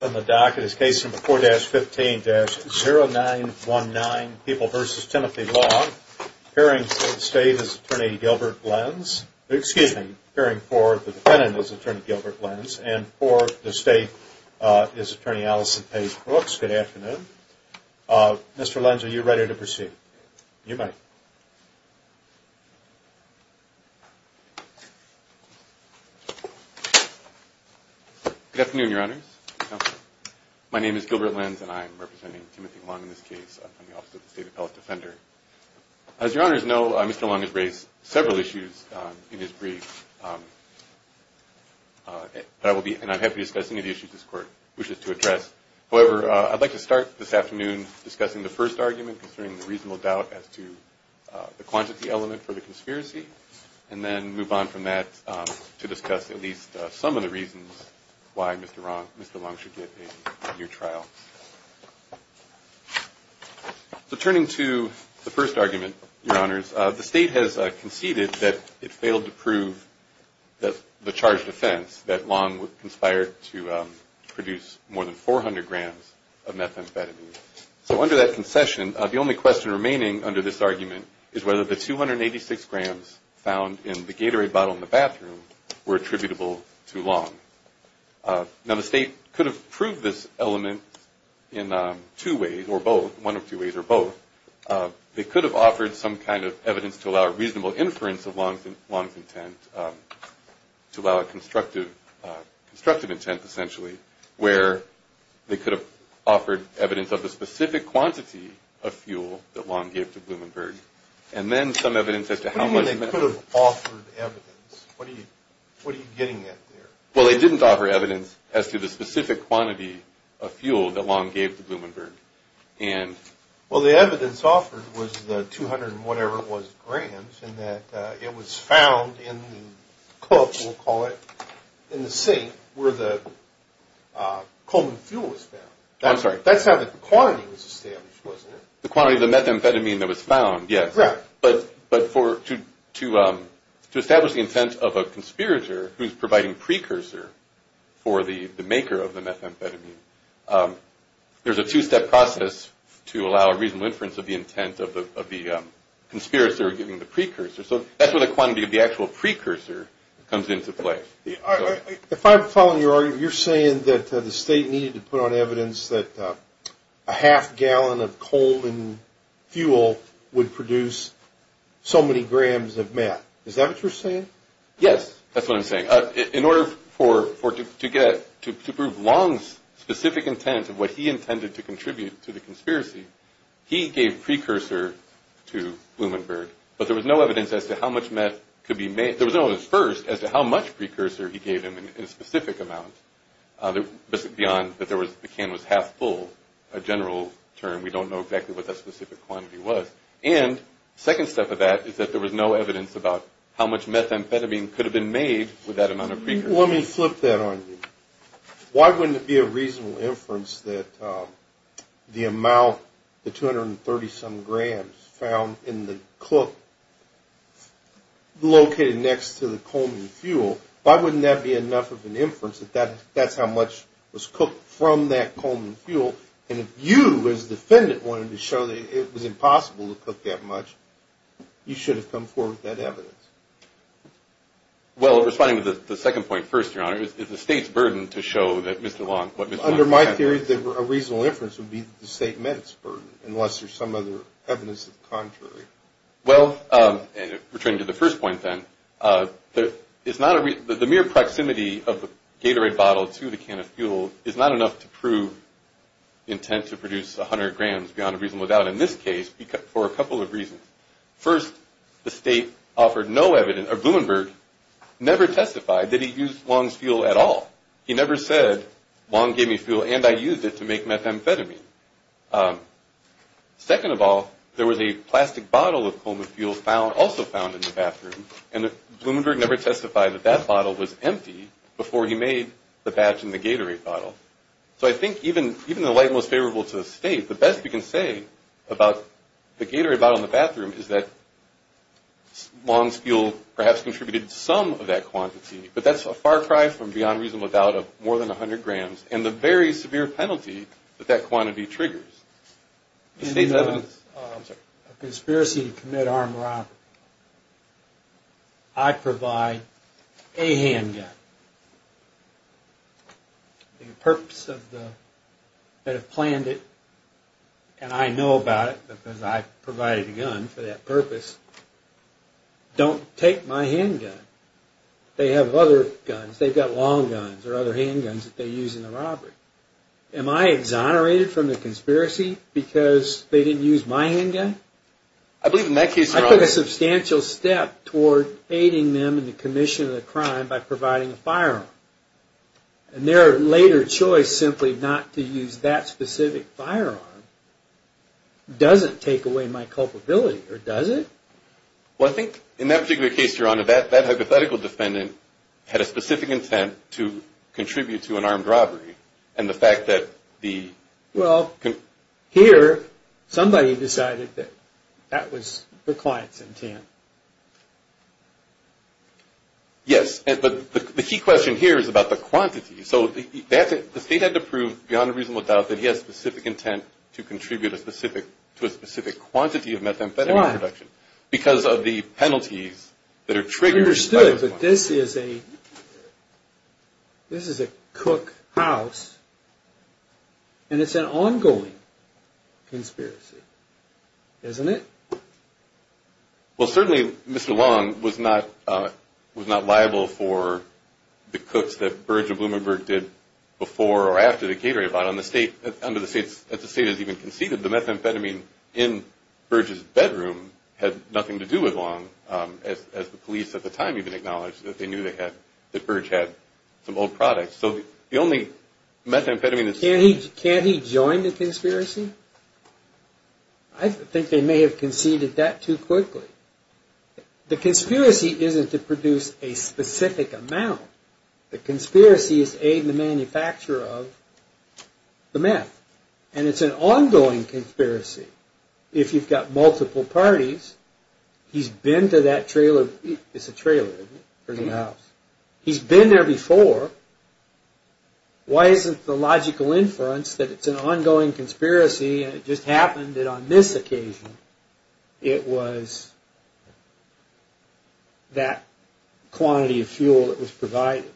On the docket is case number 4-15-0919, People v. Timothy Long, appearing for the defendant is Attorney Gilbert Lenz, and for the state is Attorney Allison Page Brooks. Good afternoon. Mr. Lenz, are you ready to proceed? You may. Good afternoon, Your Honors. My name is Gilbert Lenz, and I am representing Timothy Long in this case from the Office of the State Appellate Defender. As Your Honors know, Mr. Long has raised several issues in his brief, and I'm happy to discuss any of the issues this Court wishes to address. However, I'd like to start this afternoon discussing the first argument concerning the reasonable doubt as to the quantity element for the conspiracy, and then move on from that to discuss at least some of the reasons why Mr. Long should get a near trial. So turning to the first argument, Your Honors, the state has conceded that it failed to prove the charged offense that Long conspired to produce more than 400 grams of methamphetamine. So under that concession, the only question remaining under this argument is whether the 286 grams found in the Gatorade bottle in the bathroom were attributable to Long. Now, the state could have proved this element in two ways, or both, one of two ways, or both. They could have offered some kind of evidence to allow a reasonable inference of Long's intent, to allow a constructive intent, essentially, where they could have offered evidence of the specific quantity of fuel that Long gave to Blumenberg, and then some evidence as to how much methamphetamine... Well, they didn't offer evidence as to the specific quantity of fuel that Long gave to Blumenberg. Well, the evidence offered was the 200-and-whatever-it-was grams, and that it was found in the cup, we'll call it, in the sink where the Coleman fuel was found. I'm sorry. That's how the quantity was established, wasn't it? The quantity of the methamphetamine that was found, yes. Right. But to establish the intent of a conspirator who's providing precursor for the maker of the methamphetamine, there's a two-step process to allow a reasonable inference of the intent of the conspirator giving the precursor. So that's where the quantity of the actual precursor comes into play. If I'm following your argument, you're saying that the state needed to put on evidence that a half-gallon of Coleman fuel would produce so many grams of meth. Is that what you're saying? Yes, that's what I'm saying. In order to prove Long's specific intent of what he intended to contribute to the conspiracy, he gave precursor to Blumenberg, but there was no evidence as to how much meth could be made. There was no evidence, first, as to how much precursor he gave him in a specific amount beyond that the can was half-full, a general term. We don't know exactly what that specific quantity was. And the second step of that is that there was no evidence about how much methamphetamine could have been made with that amount of precursor. Let me flip that on you. Why wouldn't it be a reasonable inference that the amount, the 230-some grams found in the cook located next to the Coleman fuel, why wouldn't that be enough of an inference that that's how much was cooked from that Coleman fuel? And if you, as a defendant, wanted to show that it was impossible to cook that much, you should have come forward with that evidence. Well, responding to the second point first, Your Honor, it's the State's burden to show that Mr. Long – Under my theory, a reasonable inference would be that the State met its burden, unless there's some other evidence of the contrary. Well, returning to the first point then, the mere proximity of the Gatorade bottle to the can of fuel is not enough to prove the intent to produce 100 grams beyond a reasonable doubt. Well, in this case, for a couple of reasons. First, the State offered no evidence – or Blumenberg never testified that he used Long's fuel at all. He never said, Long gave me fuel and I used it to make methamphetamine. Second of all, there was a plastic bottle of Coleman fuel also found in the bathroom, and Blumenberg never testified that that bottle was empty before he made the batch in the Gatorade bottle. So I think even in the light most favorable to the State, the best we can say about the Gatorade bottle in the bathroom is that Long's fuel perhaps contributed some of that quantity, but that's a far cry from beyond reasonable doubt of more than 100 grams and the very severe penalty that that quantity triggers. State evidence? A conspiracy to commit armed robbery. I provide a handgun. The purpose of the – that have planned it, and I know about it because I provided a gun for that purpose, don't take my handgun. They have other guns. They've got Long guns or other handguns that they use in the robbery. Am I exonerated from the conspiracy because they didn't use my handgun? I believe in that case, Your Honor – I took a substantial step toward aiding them in the commission of the crime by providing a firearm. And their later choice simply not to use that specific firearm doesn't take away my culpability, or does it? Well, I think in that particular case, Your Honor, that hypothetical defendant had a specific intent to contribute to an armed robbery, and the fact that the – Well, here, somebody decided that that was the client's intent. Yes, but the key question here is about the quantity. So the state had to prove, beyond a reasonable doubt, that he had a specific intent to contribute to a specific quantity of methamphetamine production. Why? Because of the penalties that are triggered by those quantities. I understood, but this is a cook house, and it's an ongoing conspiracy, isn't it? Well, certainly, Mr. Long was not liable for the cooks that Burge and Blumenberg did before or after the catering bought. Under the state's – as the state has even conceded, the methamphetamine in Burge's bedroom had nothing to do with Long, as the police at the time even acknowledged that they knew that Burge had some old products. So the only methamphetamine that's – Can't he join the conspiracy? I think they may have conceded that too quickly. The conspiracy isn't to produce a specific amount. The conspiracy is to aid in the manufacture of the meth, and it's an ongoing conspiracy. If you've got multiple parties, he's been to that trailer – it's a trailer, isn't it? There's a house. He's been there before. Why isn't the logical inference that it's an ongoing conspiracy, and it just happened that on this occasion it was that quantity of fuel that was provided?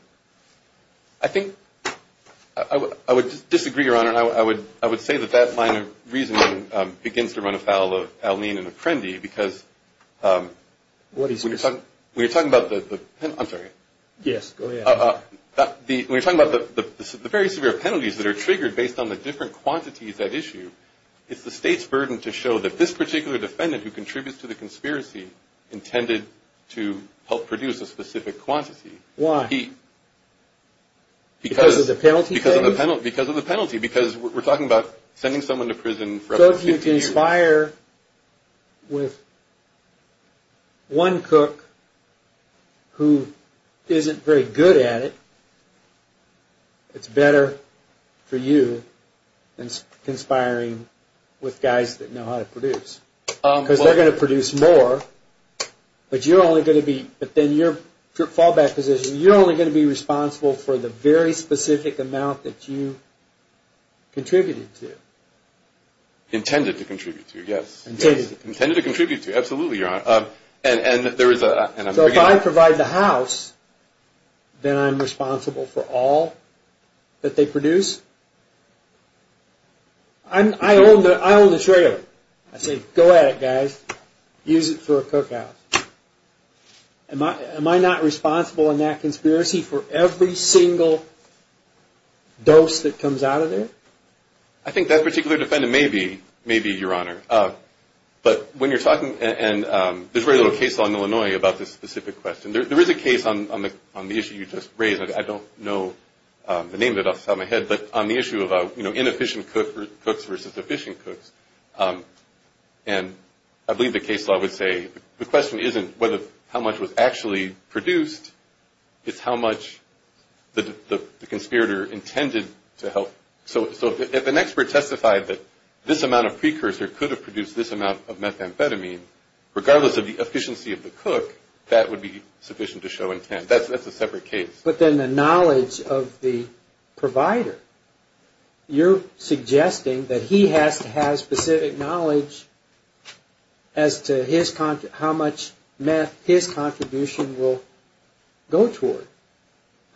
I think – I would disagree, Your Honor. I would say that that line of reasoning begins to run afoul of Aline and Apprendi because – What is – When you're talking about the – I'm sorry. Yes, go ahead. When you're talking about the very severe penalties that are triggered based on the different quantities at issue, it's the state's burden to show that this particular defendant who contributes to the conspiracy intended to help produce a specific quantity. Why? Because of the penalty? Because of the penalty. Well, if you conspire with one cook who isn't very good at it, it's better for you than conspiring with guys that know how to produce because they're going to produce more, but you're only going to be – but then your fallback position is you're only going to be responsible for the very specific amount that you contributed to. Intended to contribute to, yes. Intended to contribute to. Intended to contribute to, absolutely, Your Honor. And there is a – So if I provide the house, then I'm responsible for all that they produce? I own the trailer. I say, go at it, guys. Use it for a cookout. Am I not responsible in that conspiracy for every single dose that comes out of there? I think that particular defendant may be, Your Honor. But when you're talking – and there's very little case law in Illinois about this specific question. There is a case on the issue you just raised. I don't know the name of it off the top of my head, but on the issue of inefficient cooks versus efficient cooks. And I believe the case law would say the question isn't how much was actually produced. It's how much the conspirator intended to help. So if an expert testified that this amount of precursor could have produced this amount of methamphetamine, regardless of the efficiency of the cook, that would be sufficient to show intent. That's a separate case. But then the knowledge of the provider. You're suggesting that he has to have specific knowledge as to how much meth his contribution will go toward.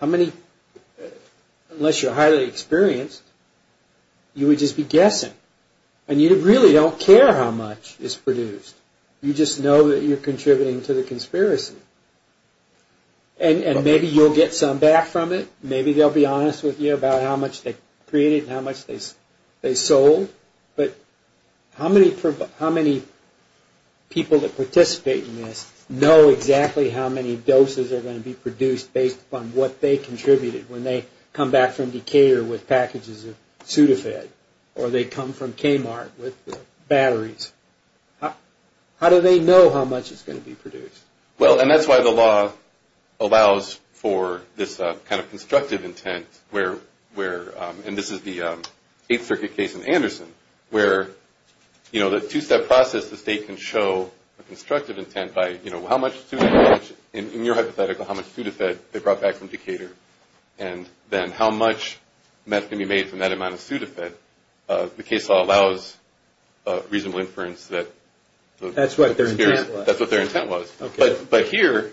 How many – unless you're highly experienced, you would just be guessing. And you really don't care how much is produced. You just know that you're contributing to the conspiracy. And maybe you'll get some back from it. Maybe they'll be honest with you about how much they created and how much they sold. But how many people that participate in this know exactly how many doses are going to be produced based upon what they contributed when they come back from Decatur with packages of Sudafed or they come from Kmart with batteries? How do they know how much is going to be produced? Well, and that's why the law allows for this kind of constructive intent where – and this is the Eighth Circuit case in Anderson where, you know, the two-step process the state can show a constructive intent by, you know, how much Sudafed – in your hypothetical, how much Sudafed they brought back from Decatur. And then how much meth can be made from that amount of Sudafed. The case law allows reasonable inference that – That's what their intent was. That's what their intent was. But here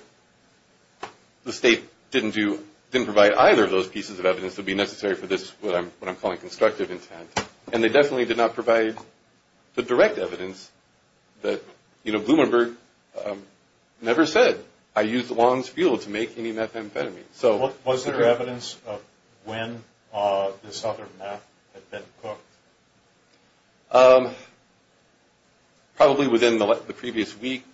the state didn't do – didn't provide either of those pieces of evidence that would be necessary for this, what I'm calling constructive intent. And they definitely did not provide the direct evidence that, you know, Blumenberg never said, I used Long's fuel to make any methamphetamine. So – Was there evidence of when this other meth had been cooked? Probably within the previous week.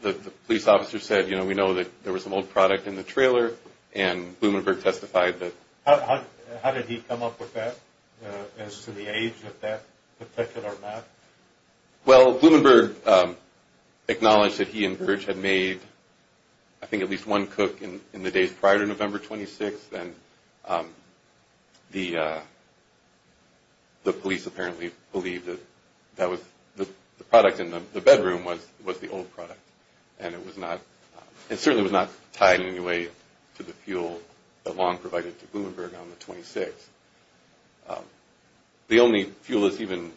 The police officer said, you know, we know that there was some old product in the trailer. And Blumenberg testified that – How did he come up with that as to the age of that particular meth? Well, Blumenberg acknowledged that he and Virch had made, I think, at least one cook in the days prior to November 26th. And the police apparently believed that that was – the product in the bedroom was the old product. And it was not – it certainly was not tied in any way to the fuel that Long provided to Blumenberg on the 26th. The only fuel that's even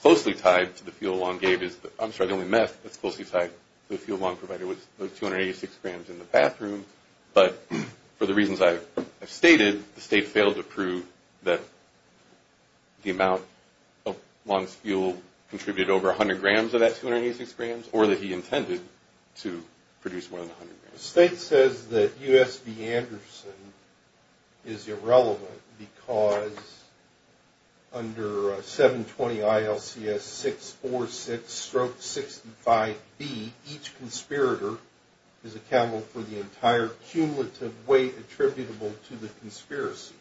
closely tied to the fuel Long gave is – I'm sorry, the only meth that's closely tied to the fuel Long provided was those 286 grams in the bathroom. But for the reasons I've stated, the state failed to prove that the amount of Long's fuel contributed over 100 grams of that 286 grams or that he intended to produce more than 100 grams. The state says that U.S.B. Anderson is irrelevant because under 720 ILCS 646-65B, each conspirator is accountable for the entire cumulative weight attributable to the conspiracy.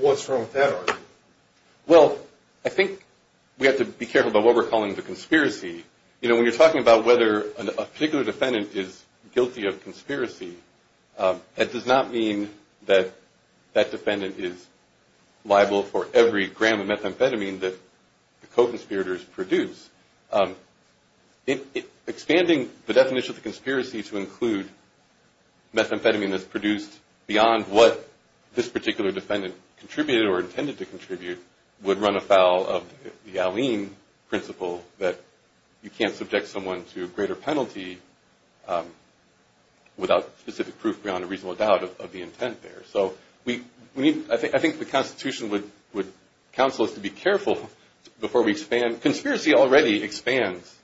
What's wrong with that argument? Well, I think we have to be careful about what we're calling the conspiracy. You know, when you're talking about whether a particular defendant is guilty of conspiracy, that does not mean that that defendant is liable for every gram of methamphetamine that the co-conspirators produce. Expanding the definition of the conspiracy to include methamphetamine that's produced beyond what this particular defendant contributed or intended to contribute would run afoul of the Alleyne principle that you can't subject someone to a greater penalty without specific proof beyond a reasonable doubt of the intent there. So I think the Constitution would counsel us to be careful before we expand. Conspiracy already expands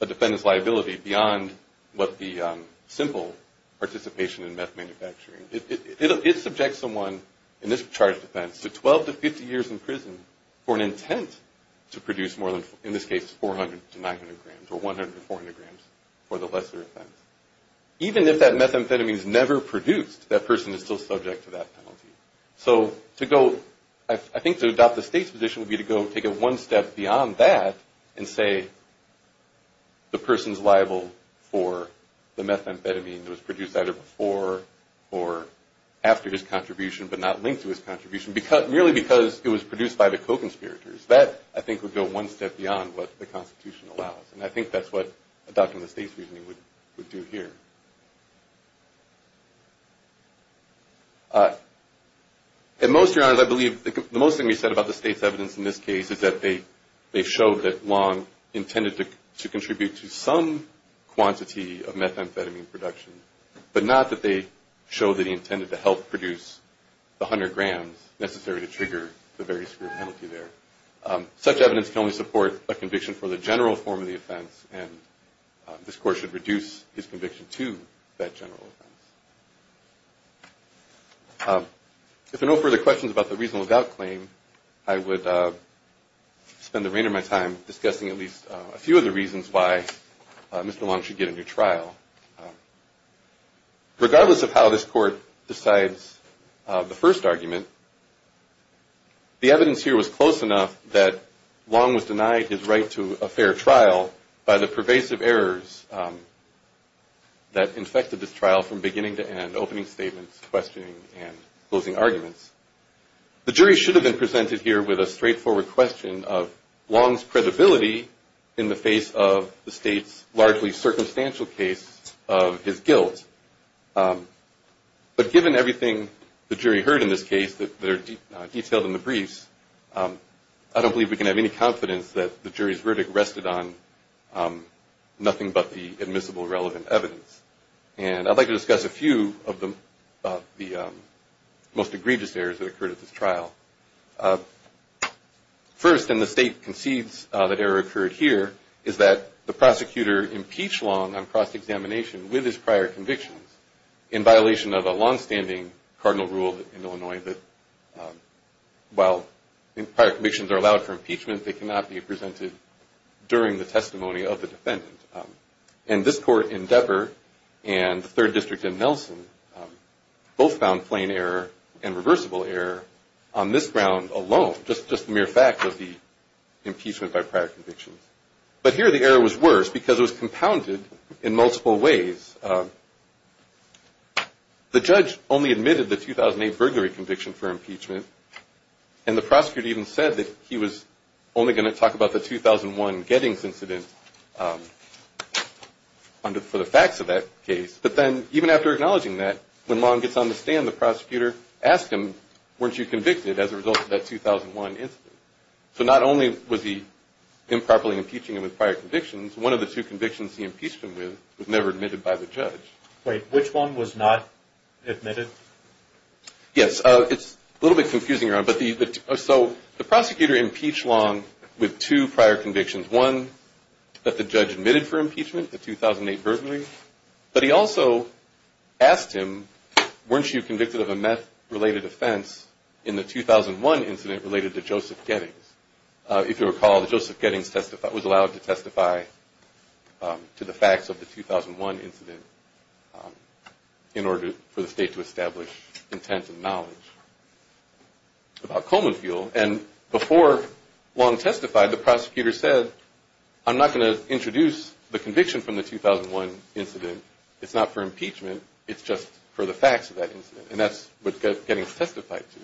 a defendant's liability beyond what the simple participation in meth manufacturing. It subjects someone in this charged offense to 12 to 50 years in prison for an intent to produce more than, in this case, 400 to 900 grams or 100 to 400 grams for the lesser offense. Even if that methamphetamine is never produced, that person is still subject to that penalty. So to go – I think to adopt the State's position would be to go take it one step beyond that and say the person's liable for the methamphetamine that was produced either before or after his contribution but not linked to his contribution, merely because it was produced by the co-conspirators. That, I think, would go one step beyond what the Constitution allows. And I think that's what adopting the State's reasoning would do here. At most, Your Honor, I believe the most thing you said about the State's evidence in this case is that they show that Long intended to contribute to some quantity of methamphetamine production, but not that they show that he intended to help produce the 100 grams necessary to trigger the very severe penalty there. Such evidence can only support a conviction for the general form of the offense, and this Court should reduce his conviction to that general offense. If there are no further questions about the reasonable doubt claim, I would spend the remainder of my time discussing at least a few of the reasons why Mr. Long should get a new trial. Regardless of how this Court decides the first argument, the evidence here was close enough that Long was denied his right to a fair trial by the pervasive errors that infected this trial from beginning to end, opening statements, questioning, and closing arguments. The jury should have been presented here with a straightforward question of Long's credibility in the face of the State's largely circumstantial case of his guilt. But given everything the jury heard in this case that are detailed in the briefs, I don't believe we can have any confidence that the jury's verdict rested on nothing but the admissible relevant evidence. And I'd like to discuss a few of the most egregious errors that occurred at this trial. First, and the State concedes that error occurred here, is that the prosecutor impeached Long on cross-examination with his prior convictions in violation of a longstanding cardinal rule in Illinois that while prior convictions are allowed for impeachment, they cannot be presented during the testimony of the defendant. And this Court in Depper and the Third District in Nelson both found plain error and reversible error on this ground alone, just the mere fact of the impeachment by prior convictions. But here the error was worse because it was compounded in multiple ways. The judge only admitted the 2008 burglary conviction for impeachment, and the prosecutor even said that he was only going to talk about the 2001 Gettings incident for the facts of that case. But then even after acknowledging that, when Long gets on the stand, the prosecutor asked him, weren't you convicted as a result of that 2001 incident? So not only was he improperly impeaching him with prior convictions, one of the two convictions he impeached him with was never admitted by the judge. Wait, which one was not admitted? Yes, it's a little bit confusing. So the prosecutor impeached Long with two prior convictions, one that the judge admitted for impeachment, the 2008 burglary. But he also asked him, weren't you convicted of a meth-related offense in the 2001 incident related to Joseph Gettings? If you recall, Joseph Gettings was allowed to testify to the facts of the 2001 incident in order for the state to establish intent and knowledge about coal and fuel. And before Long testified, the prosecutor said, I'm not going to introduce the conviction from the 2001 incident. It's not for impeachment. It's just for the facts of that incident. And that's what Gettings testified to.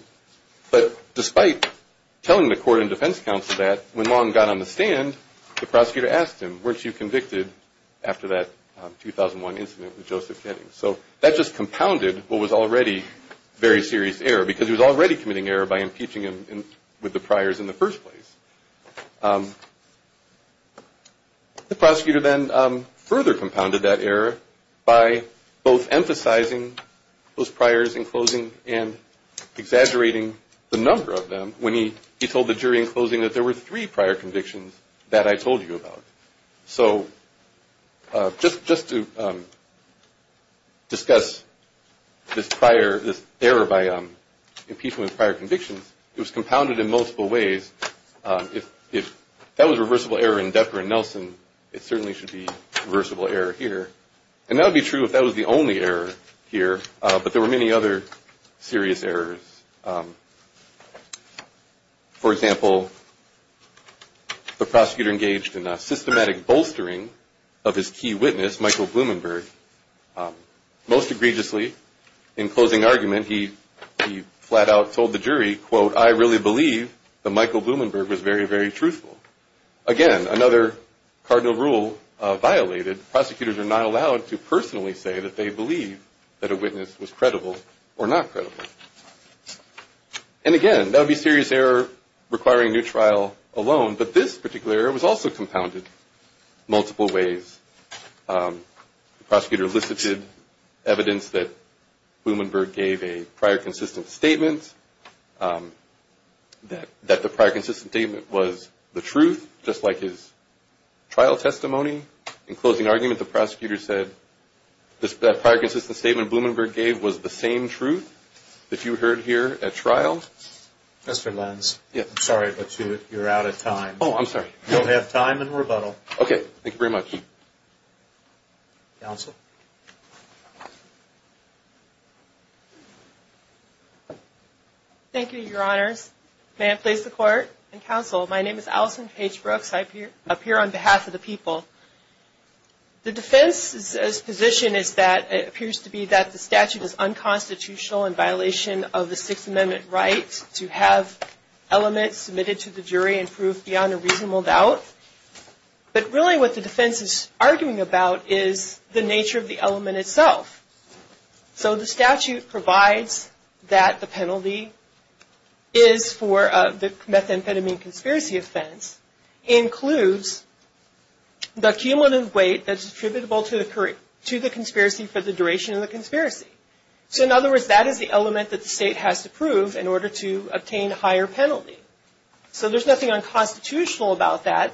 But despite telling the court and defense counsel that, when Long got on the stand, the prosecutor asked him, weren't you convicted after that 2001 incident with Joseph Gettings? So that just compounded what was already very serious error, because he was already committing error by impeaching him with the priors in the first place. The prosecutor then further compounded that error by both emphasizing those priors in closing and exaggerating the number of them when he told the jury in closing that there were three prior convictions that I told you about. So just to discuss this error by impeachment with prior convictions, it was compounded in multiple ways. If that was reversible error in Decker and Nelson, it certainly should be reversible error here. And that would be true if that was the only error here. But there were many other serious errors. For example, the prosecutor engaged in a systematic bolstering of his key witness, Michael Blumenberg. Most egregiously, in closing argument, he flat out told the jury, quote, I really believe that Michael Blumenberg was very, very truthful. Again, another cardinal rule violated. Prosecutors are not allowed to personally say that they believe that a witness was credible or not credible. And again, that would be serious error requiring new trial alone. But this particular error was also compounded multiple ways. The prosecutor elicited evidence that Blumenberg gave a prior consistent statement, that the prior consistent statement was the truth, just like his trial testimony. In closing argument, the prosecutor said that prior consistent statement Blumenberg gave was the same truth that you heard here at trial. Mr. Lenz, I'm sorry, but you're out of time. Oh, I'm sorry. You'll have time and rebuttal. Okay. Thank you very much. Counsel? Thank you, Your Honors. May I please the Court and Counsel? My name is Allison Page Brooks. I appear on behalf of the people. The defense's position is that it appears to be that the statute is unconstitutional in violation of the Sixth Amendment right to have elements submitted to the jury and proved beyond a reasonable doubt. But really what the defense is arguing about is the nature of the element itself. So the statute provides that the penalty is for the methamphetamine conspiracy offense, includes the cumulative weight that's attributable to the conspiracy for the duration of the conspiracy. So in other words, that is the element that the state has to prove in order to obtain a higher penalty. So there's nothing unconstitutional about that.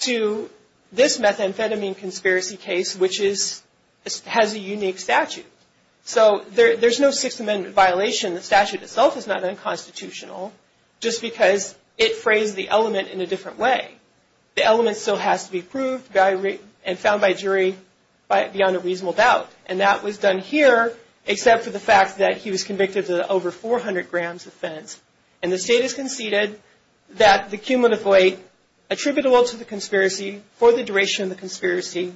to this methamphetamine conspiracy case, which has a unique statute. So there's no Sixth Amendment violation. The statute itself is not unconstitutional just because it phrased the element in a different way. The element still has to be proved and found by a jury beyond a reasonable doubt. And that was done here except for the fact that he was convicted of the over 400 grams offense. And the state has conceded that the cumulative weight attributable to the conspiracy for the duration of the conspiracy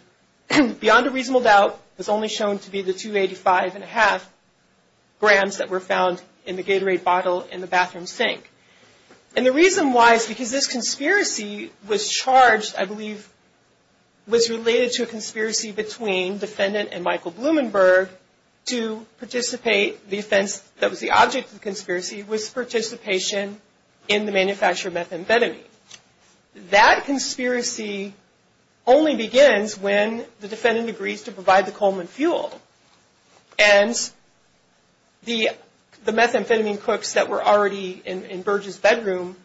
beyond a reasonable doubt is only shown to be the 285.5 grams that were found in the Gatorade bottle in the bathroom sink. And the reason why is because this conspiracy was charged, I believe, was related to a conspiracy between defendant and Michael Blumenberg to participate. The offense that was the object of the conspiracy was participation in the manufacture of methamphetamine. That conspiracy only begins when the defendant agrees to provide the Coleman fuel. And the methamphetamine cooks that were already in Burge's bedroom,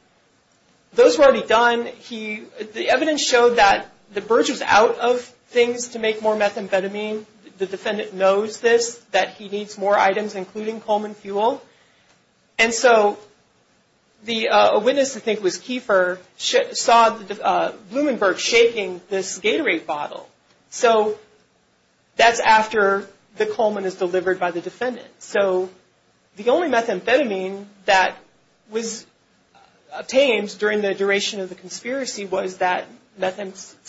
those were already done. The evidence showed that Burge was out of things to make more methamphetamine. The defendant knows this, that he needs more items including Coleman fuel. And so a witness, I think it was Kiefer, saw Blumenberg shaking this Gatorade bottle. So that's after the Coleman is delivered by the defendant. So the only methamphetamine that was obtained during the duration of the conspiracy was that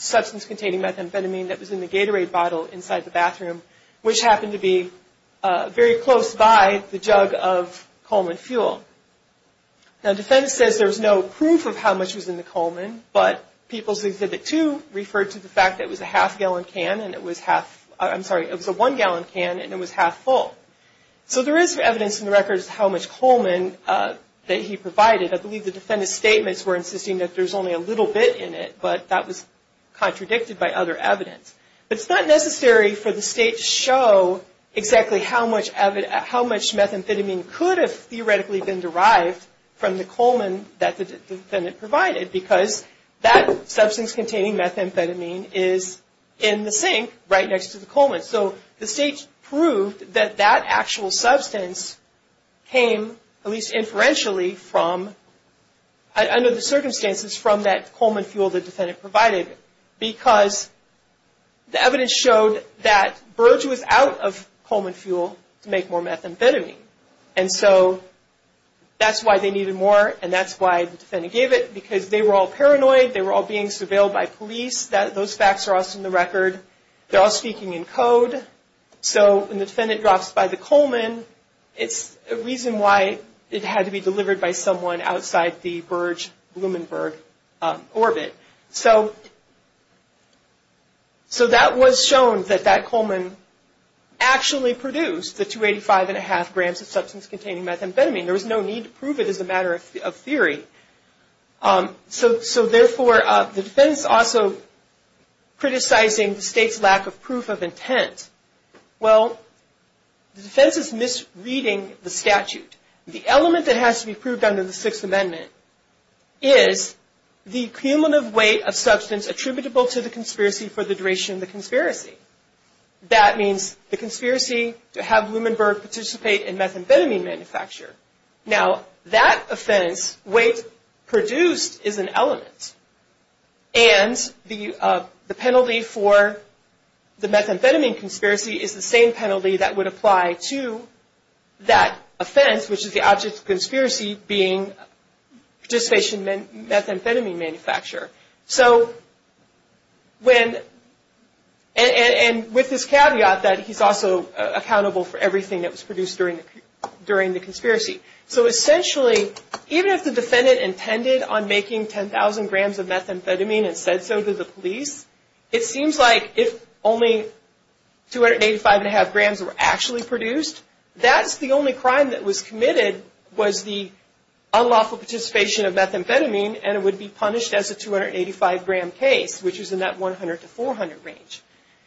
substance-containing methamphetamine that was in the Gatorade bottle inside the bathroom, which happened to be very close by the jug of Coleman fuel. Now the defendant says there was no proof of how much was in the Coleman, but People's Exhibit 2 referred to the fact that it was a half-gallon can and it was half, I'm sorry, it was a one-gallon can and it was half-full. So there is evidence in the records how much Coleman that he provided. I believe the defendant's statements were insisting that there's only a little bit in it, but that was contradicted by other evidence. But it's not necessary for the state to show exactly how much methamphetamine could have theoretically been derived from the Coleman that the defendant provided because that substance-containing methamphetamine is in the sink right next to the Coleman. So the state proved that that actual substance came, at least inferentially, under the circumstances from that Coleman fuel the defendant provided because the evidence showed that Burge was out of Coleman fuel to make more methamphetamine. And so that's why they needed more and that's why the defendant gave it, because they were all paranoid, they were all being surveilled by police, those facts are also in the record, they're all speaking in code. So when the defendant drops by the Coleman, it's a reason why it had to be delivered by someone outside the Burge-Blumenberg orbit. So that was shown that that Coleman actually produced the 285.5 grams of substance-containing methamphetamine. There was no need to prove it as a matter of theory. So therefore, the defense also criticizing the state's lack of proof of intent. Well, the defense is misreading the statute. The element that has to be proved under the Sixth Amendment is the cumulative weight of substance attributable to the conspiracy for the duration of the conspiracy. That means the conspiracy to have Blumenberg participate in methamphetamine manufacture. Now, that offense, weight produced, is an element. And the penalty for the methamphetamine conspiracy is the same penalty that would apply to that offense, which is the object of conspiracy, being participation in methamphetamine manufacture. And with this caveat that he's also accountable for everything that was produced during the conspiracy. So essentially, even if the defendant intended on making 10,000 grams of methamphetamine and said so to the police, it seems like if only 285.5 grams were actually produced, that's the only crime that was committed was the unlawful participation of methamphetamine, and it would be punished as a 285-gram case, which is in that 100 to 400 range.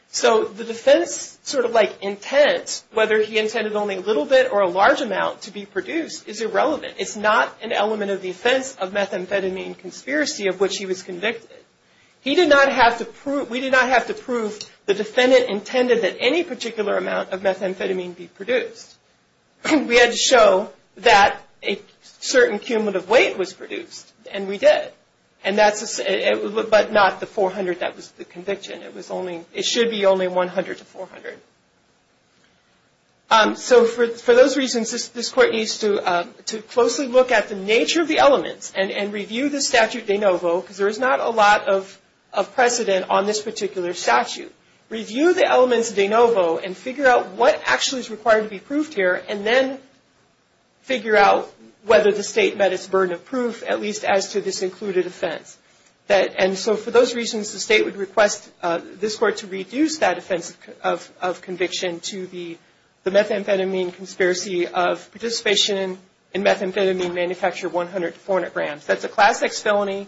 So the defense sort of like intent, whether he intended only a little bit or a large amount to be produced, is irrelevant. It's not an element of the offense of methamphetamine conspiracy of which he was convicted. We did not have to prove the defendant intended that any particular amount of methamphetamine be produced. We had to show that a certain cumulative weight was produced, and we did. But not the 400 that was the conviction. It should be only 100 to 400. So for those reasons, this court needs to closely look at the nature of the elements and review the statute de novo, because there is not a lot of precedent on this particular statute. Review the elements de novo and figure out what actually is required to be proved here, and then figure out whether the state met its burden of proof, at least as to this included offense. And so for those reasons, the state would request this court to reduce that offense of conviction to the methamphetamine conspiracy of participation in methamphetamine manufacture 100 to 400 grams. That's a Class X felony.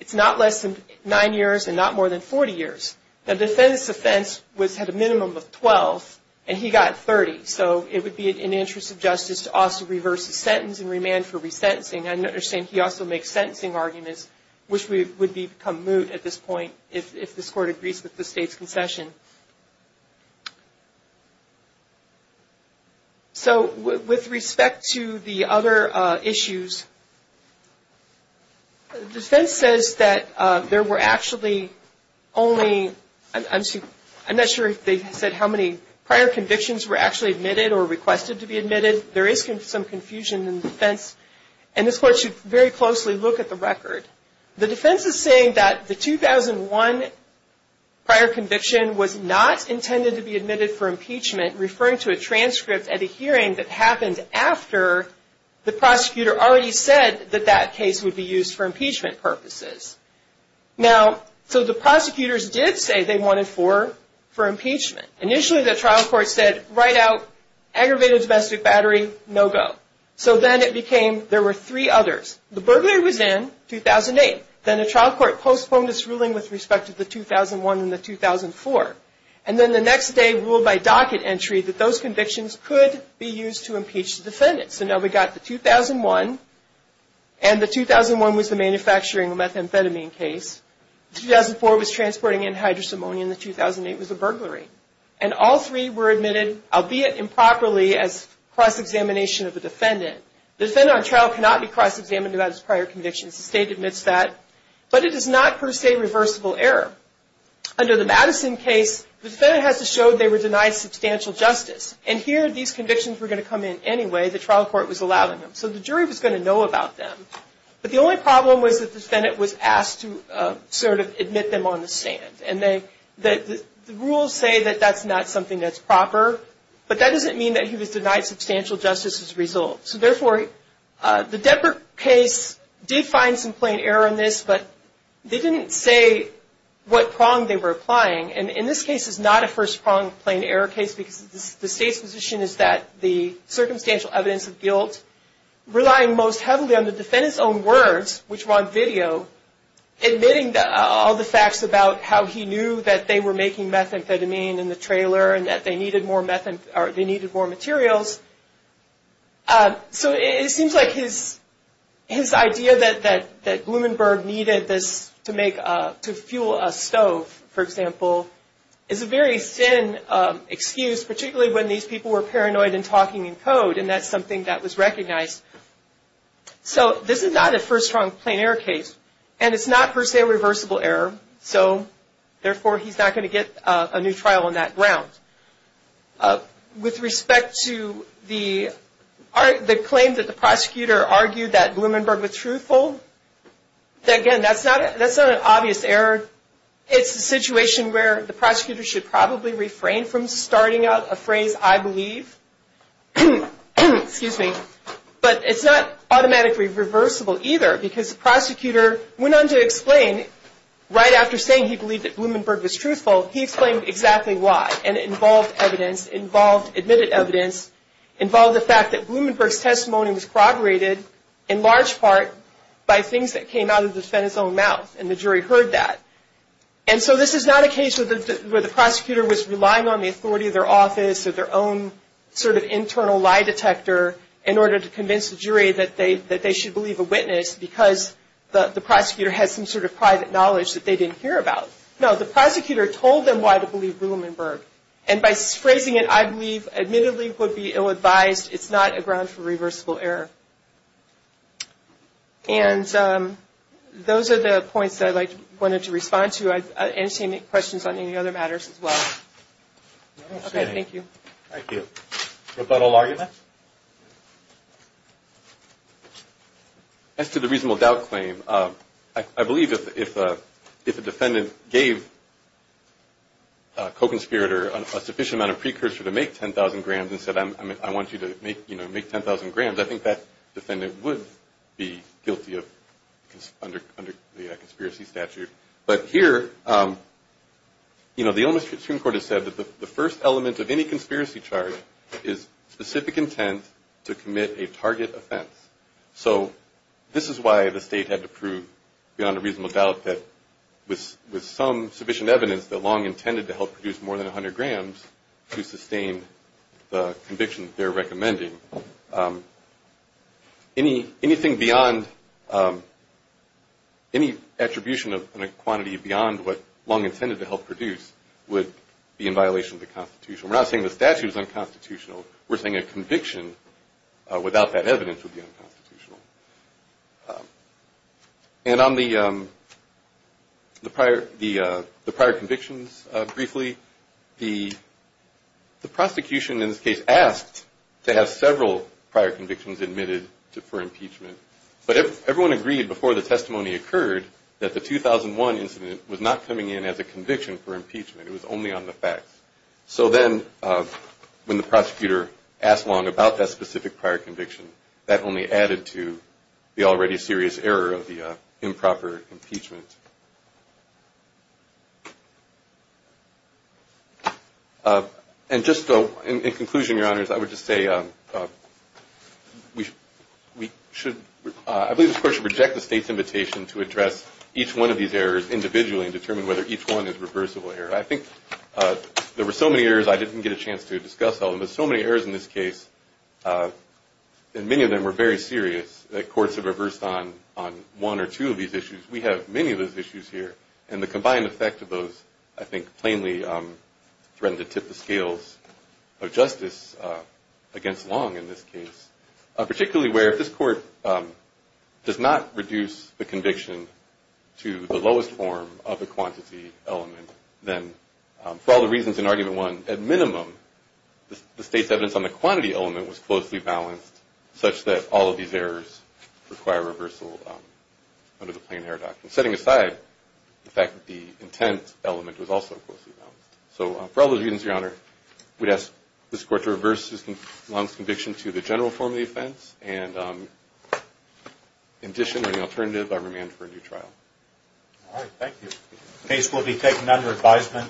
It's not less than nine years and not more than 40 years. The defendant's offense had a minimum of 12, and he got 30. So it would be in the interest of justice to also reverse the sentence and remand for resentencing. I understand he also makes sentencing arguments, which would become moot at this point if this court agrees with the state's concession. So with respect to the other issues, the defense says that there were actually only, I'm not sure if they said how many prior convictions were actually admitted or requested to be admitted. There is some confusion in the defense, and this court should very closely look at the record. The defense is saying that the 2001 prior conviction was not intended to be admitted for impeachment, referring to a transcript at a hearing that happened after the prosecutor already said that that case would be used for impeachment purposes. Now, so the prosecutors did say they wanted four for impeachment. Initially, the trial court said, write out aggravated domestic battery, no go. So then it became there were three others. The burglary was in 2008. Then the trial court postponed its ruling with respect to the 2001 and the 2004. And then the next day ruled by docket entry that those convictions could be used to impeach the defendant. So now we've got the 2001, and the 2001 was the manufacturing of methamphetamine case. The 2004 was transporting anhydrous ammonia, and the 2008 was a burglary. And all three were admitted, albeit improperly, as cross-examination of a defendant. The defendant on trial cannot be cross-examined about his prior convictions. The state admits that. But it is not, per se, reversible error. Under the Madison case, the defendant has to show they were denied substantial justice. And here, these convictions were going to come in anyway. The trial court was allowing them. So the jury was going to know about them. But the only problem was that the defendant was asked to sort of admit them on the stand. And the rules say that that's not something that's proper. But that doesn't mean that he was denied substantial justice as a result. So, therefore, the Depart case did find some plain error in this, but they didn't say what prong they were applying. And in this case, it's not a first-prong plain error case, because the state's position is that the circumstantial evidence of guilt, relying most heavily on the defendant's own words, which were on video, admitting all the facts about how he knew that they were making methamphetamine in the trailer and that they needed more materials. So it seems like his idea that Blumenberg needed this to fuel a stove, for example, is a very thin excuse, particularly when these people were paranoid and talking in code, and that's something that was recognized. So this is not a first-prong plain error case. And it's not, per se, a reversible error. So, therefore, he's not going to get a new trial on that ground. With respect to the claim that the prosecutor argued that Blumenberg was truthful, again, that's not an obvious error. It's a situation where the prosecutor should probably refrain from starting out a phrase, I believe, but it's not automatically reversible either, because the prosecutor went on to explain, right after saying he believed that Blumenberg was truthful, he explained exactly why, and it involved evidence, involved admitted evidence, involved the fact that Blumenberg's testimony was corroborated, in large part, by things that came out of the defendant's own mouth, and the jury heard that. And so this is not a case where the prosecutor was relying on the authority of their office or their own sort of internal lie detector in order to convince the jury that they should believe a witness because the prosecutor has some sort of private knowledge that they didn't hear about. No, the prosecutor told them why to believe Blumenberg. And by phrasing it, I believe, admittedly, would be ill-advised. It's not a ground for reversible error. And those are the points that I wanted to respond to. And Shane, any questions on any other matters as well? Okay, thank you. Thank you. Roberto Larga? As to the reasonable doubt claim, I believe if a defendant gave a co-conspirator a sufficient amount of precursor to make 10,000 grams and said, I want you to make 10,000 grams, I think that defendant would be guilty under the conspiracy statute. But here, you know, the Omas Supreme Court has said that the first element of any conspiracy charge is specific intent to commit a target offense. So this is why the state had to prove, beyond a reasonable doubt, that with some sufficient evidence that Long intended to help produce more than 100 grams to sustain the conviction that they're recommending. Anything beyond any attribution of a quantity beyond what Long intended to help produce would be in violation of the Constitution. We're not saying the statute is unconstitutional. We're saying a conviction without that evidence would be unconstitutional. And on the prior convictions, briefly, the prosecution in this case asked to have several prior convictions admitted for impeachment. But everyone agreed before the testimony occurred that the 2001 incident was not coming in as a conviction for impeachment. It was only on the facts. So then when the prosecutor asked Long about that specific prior conviction, that only added to the already serious error of the improper impeachment. And just in conclusion, Your Honors, I would just say we should – I believe this Court should reject the state's invitation to address each one of these errors individually and determine whether each one is a reversible error. I think there were so many errors I didn't get a chance to discuss all of them. But so many errors in this case, and many of them were very serious, that courts have reversed on one or two of these issues. We have many of those issues here. And the combined effect of those, I think, plainly threatened to tip the scales of justice against Long in this case, particularly where if this Court does not reduce the conviction to the lowest form of the quantity element, then for all the reasons in Argument 1, at minimum, the state's evidence on the quantity element was closely balanced, such that all of these errors require reversal under the plain error doctrine, setting aside the fact that the intent element was also closely balanced. So for all those reasons, Your Honor, we'd ask this Court to reverse Long's conviction to the general form of the offense. And in addition, or the alternative, I remand for a new trial. All right. Thank you. The case will be taken under advisement.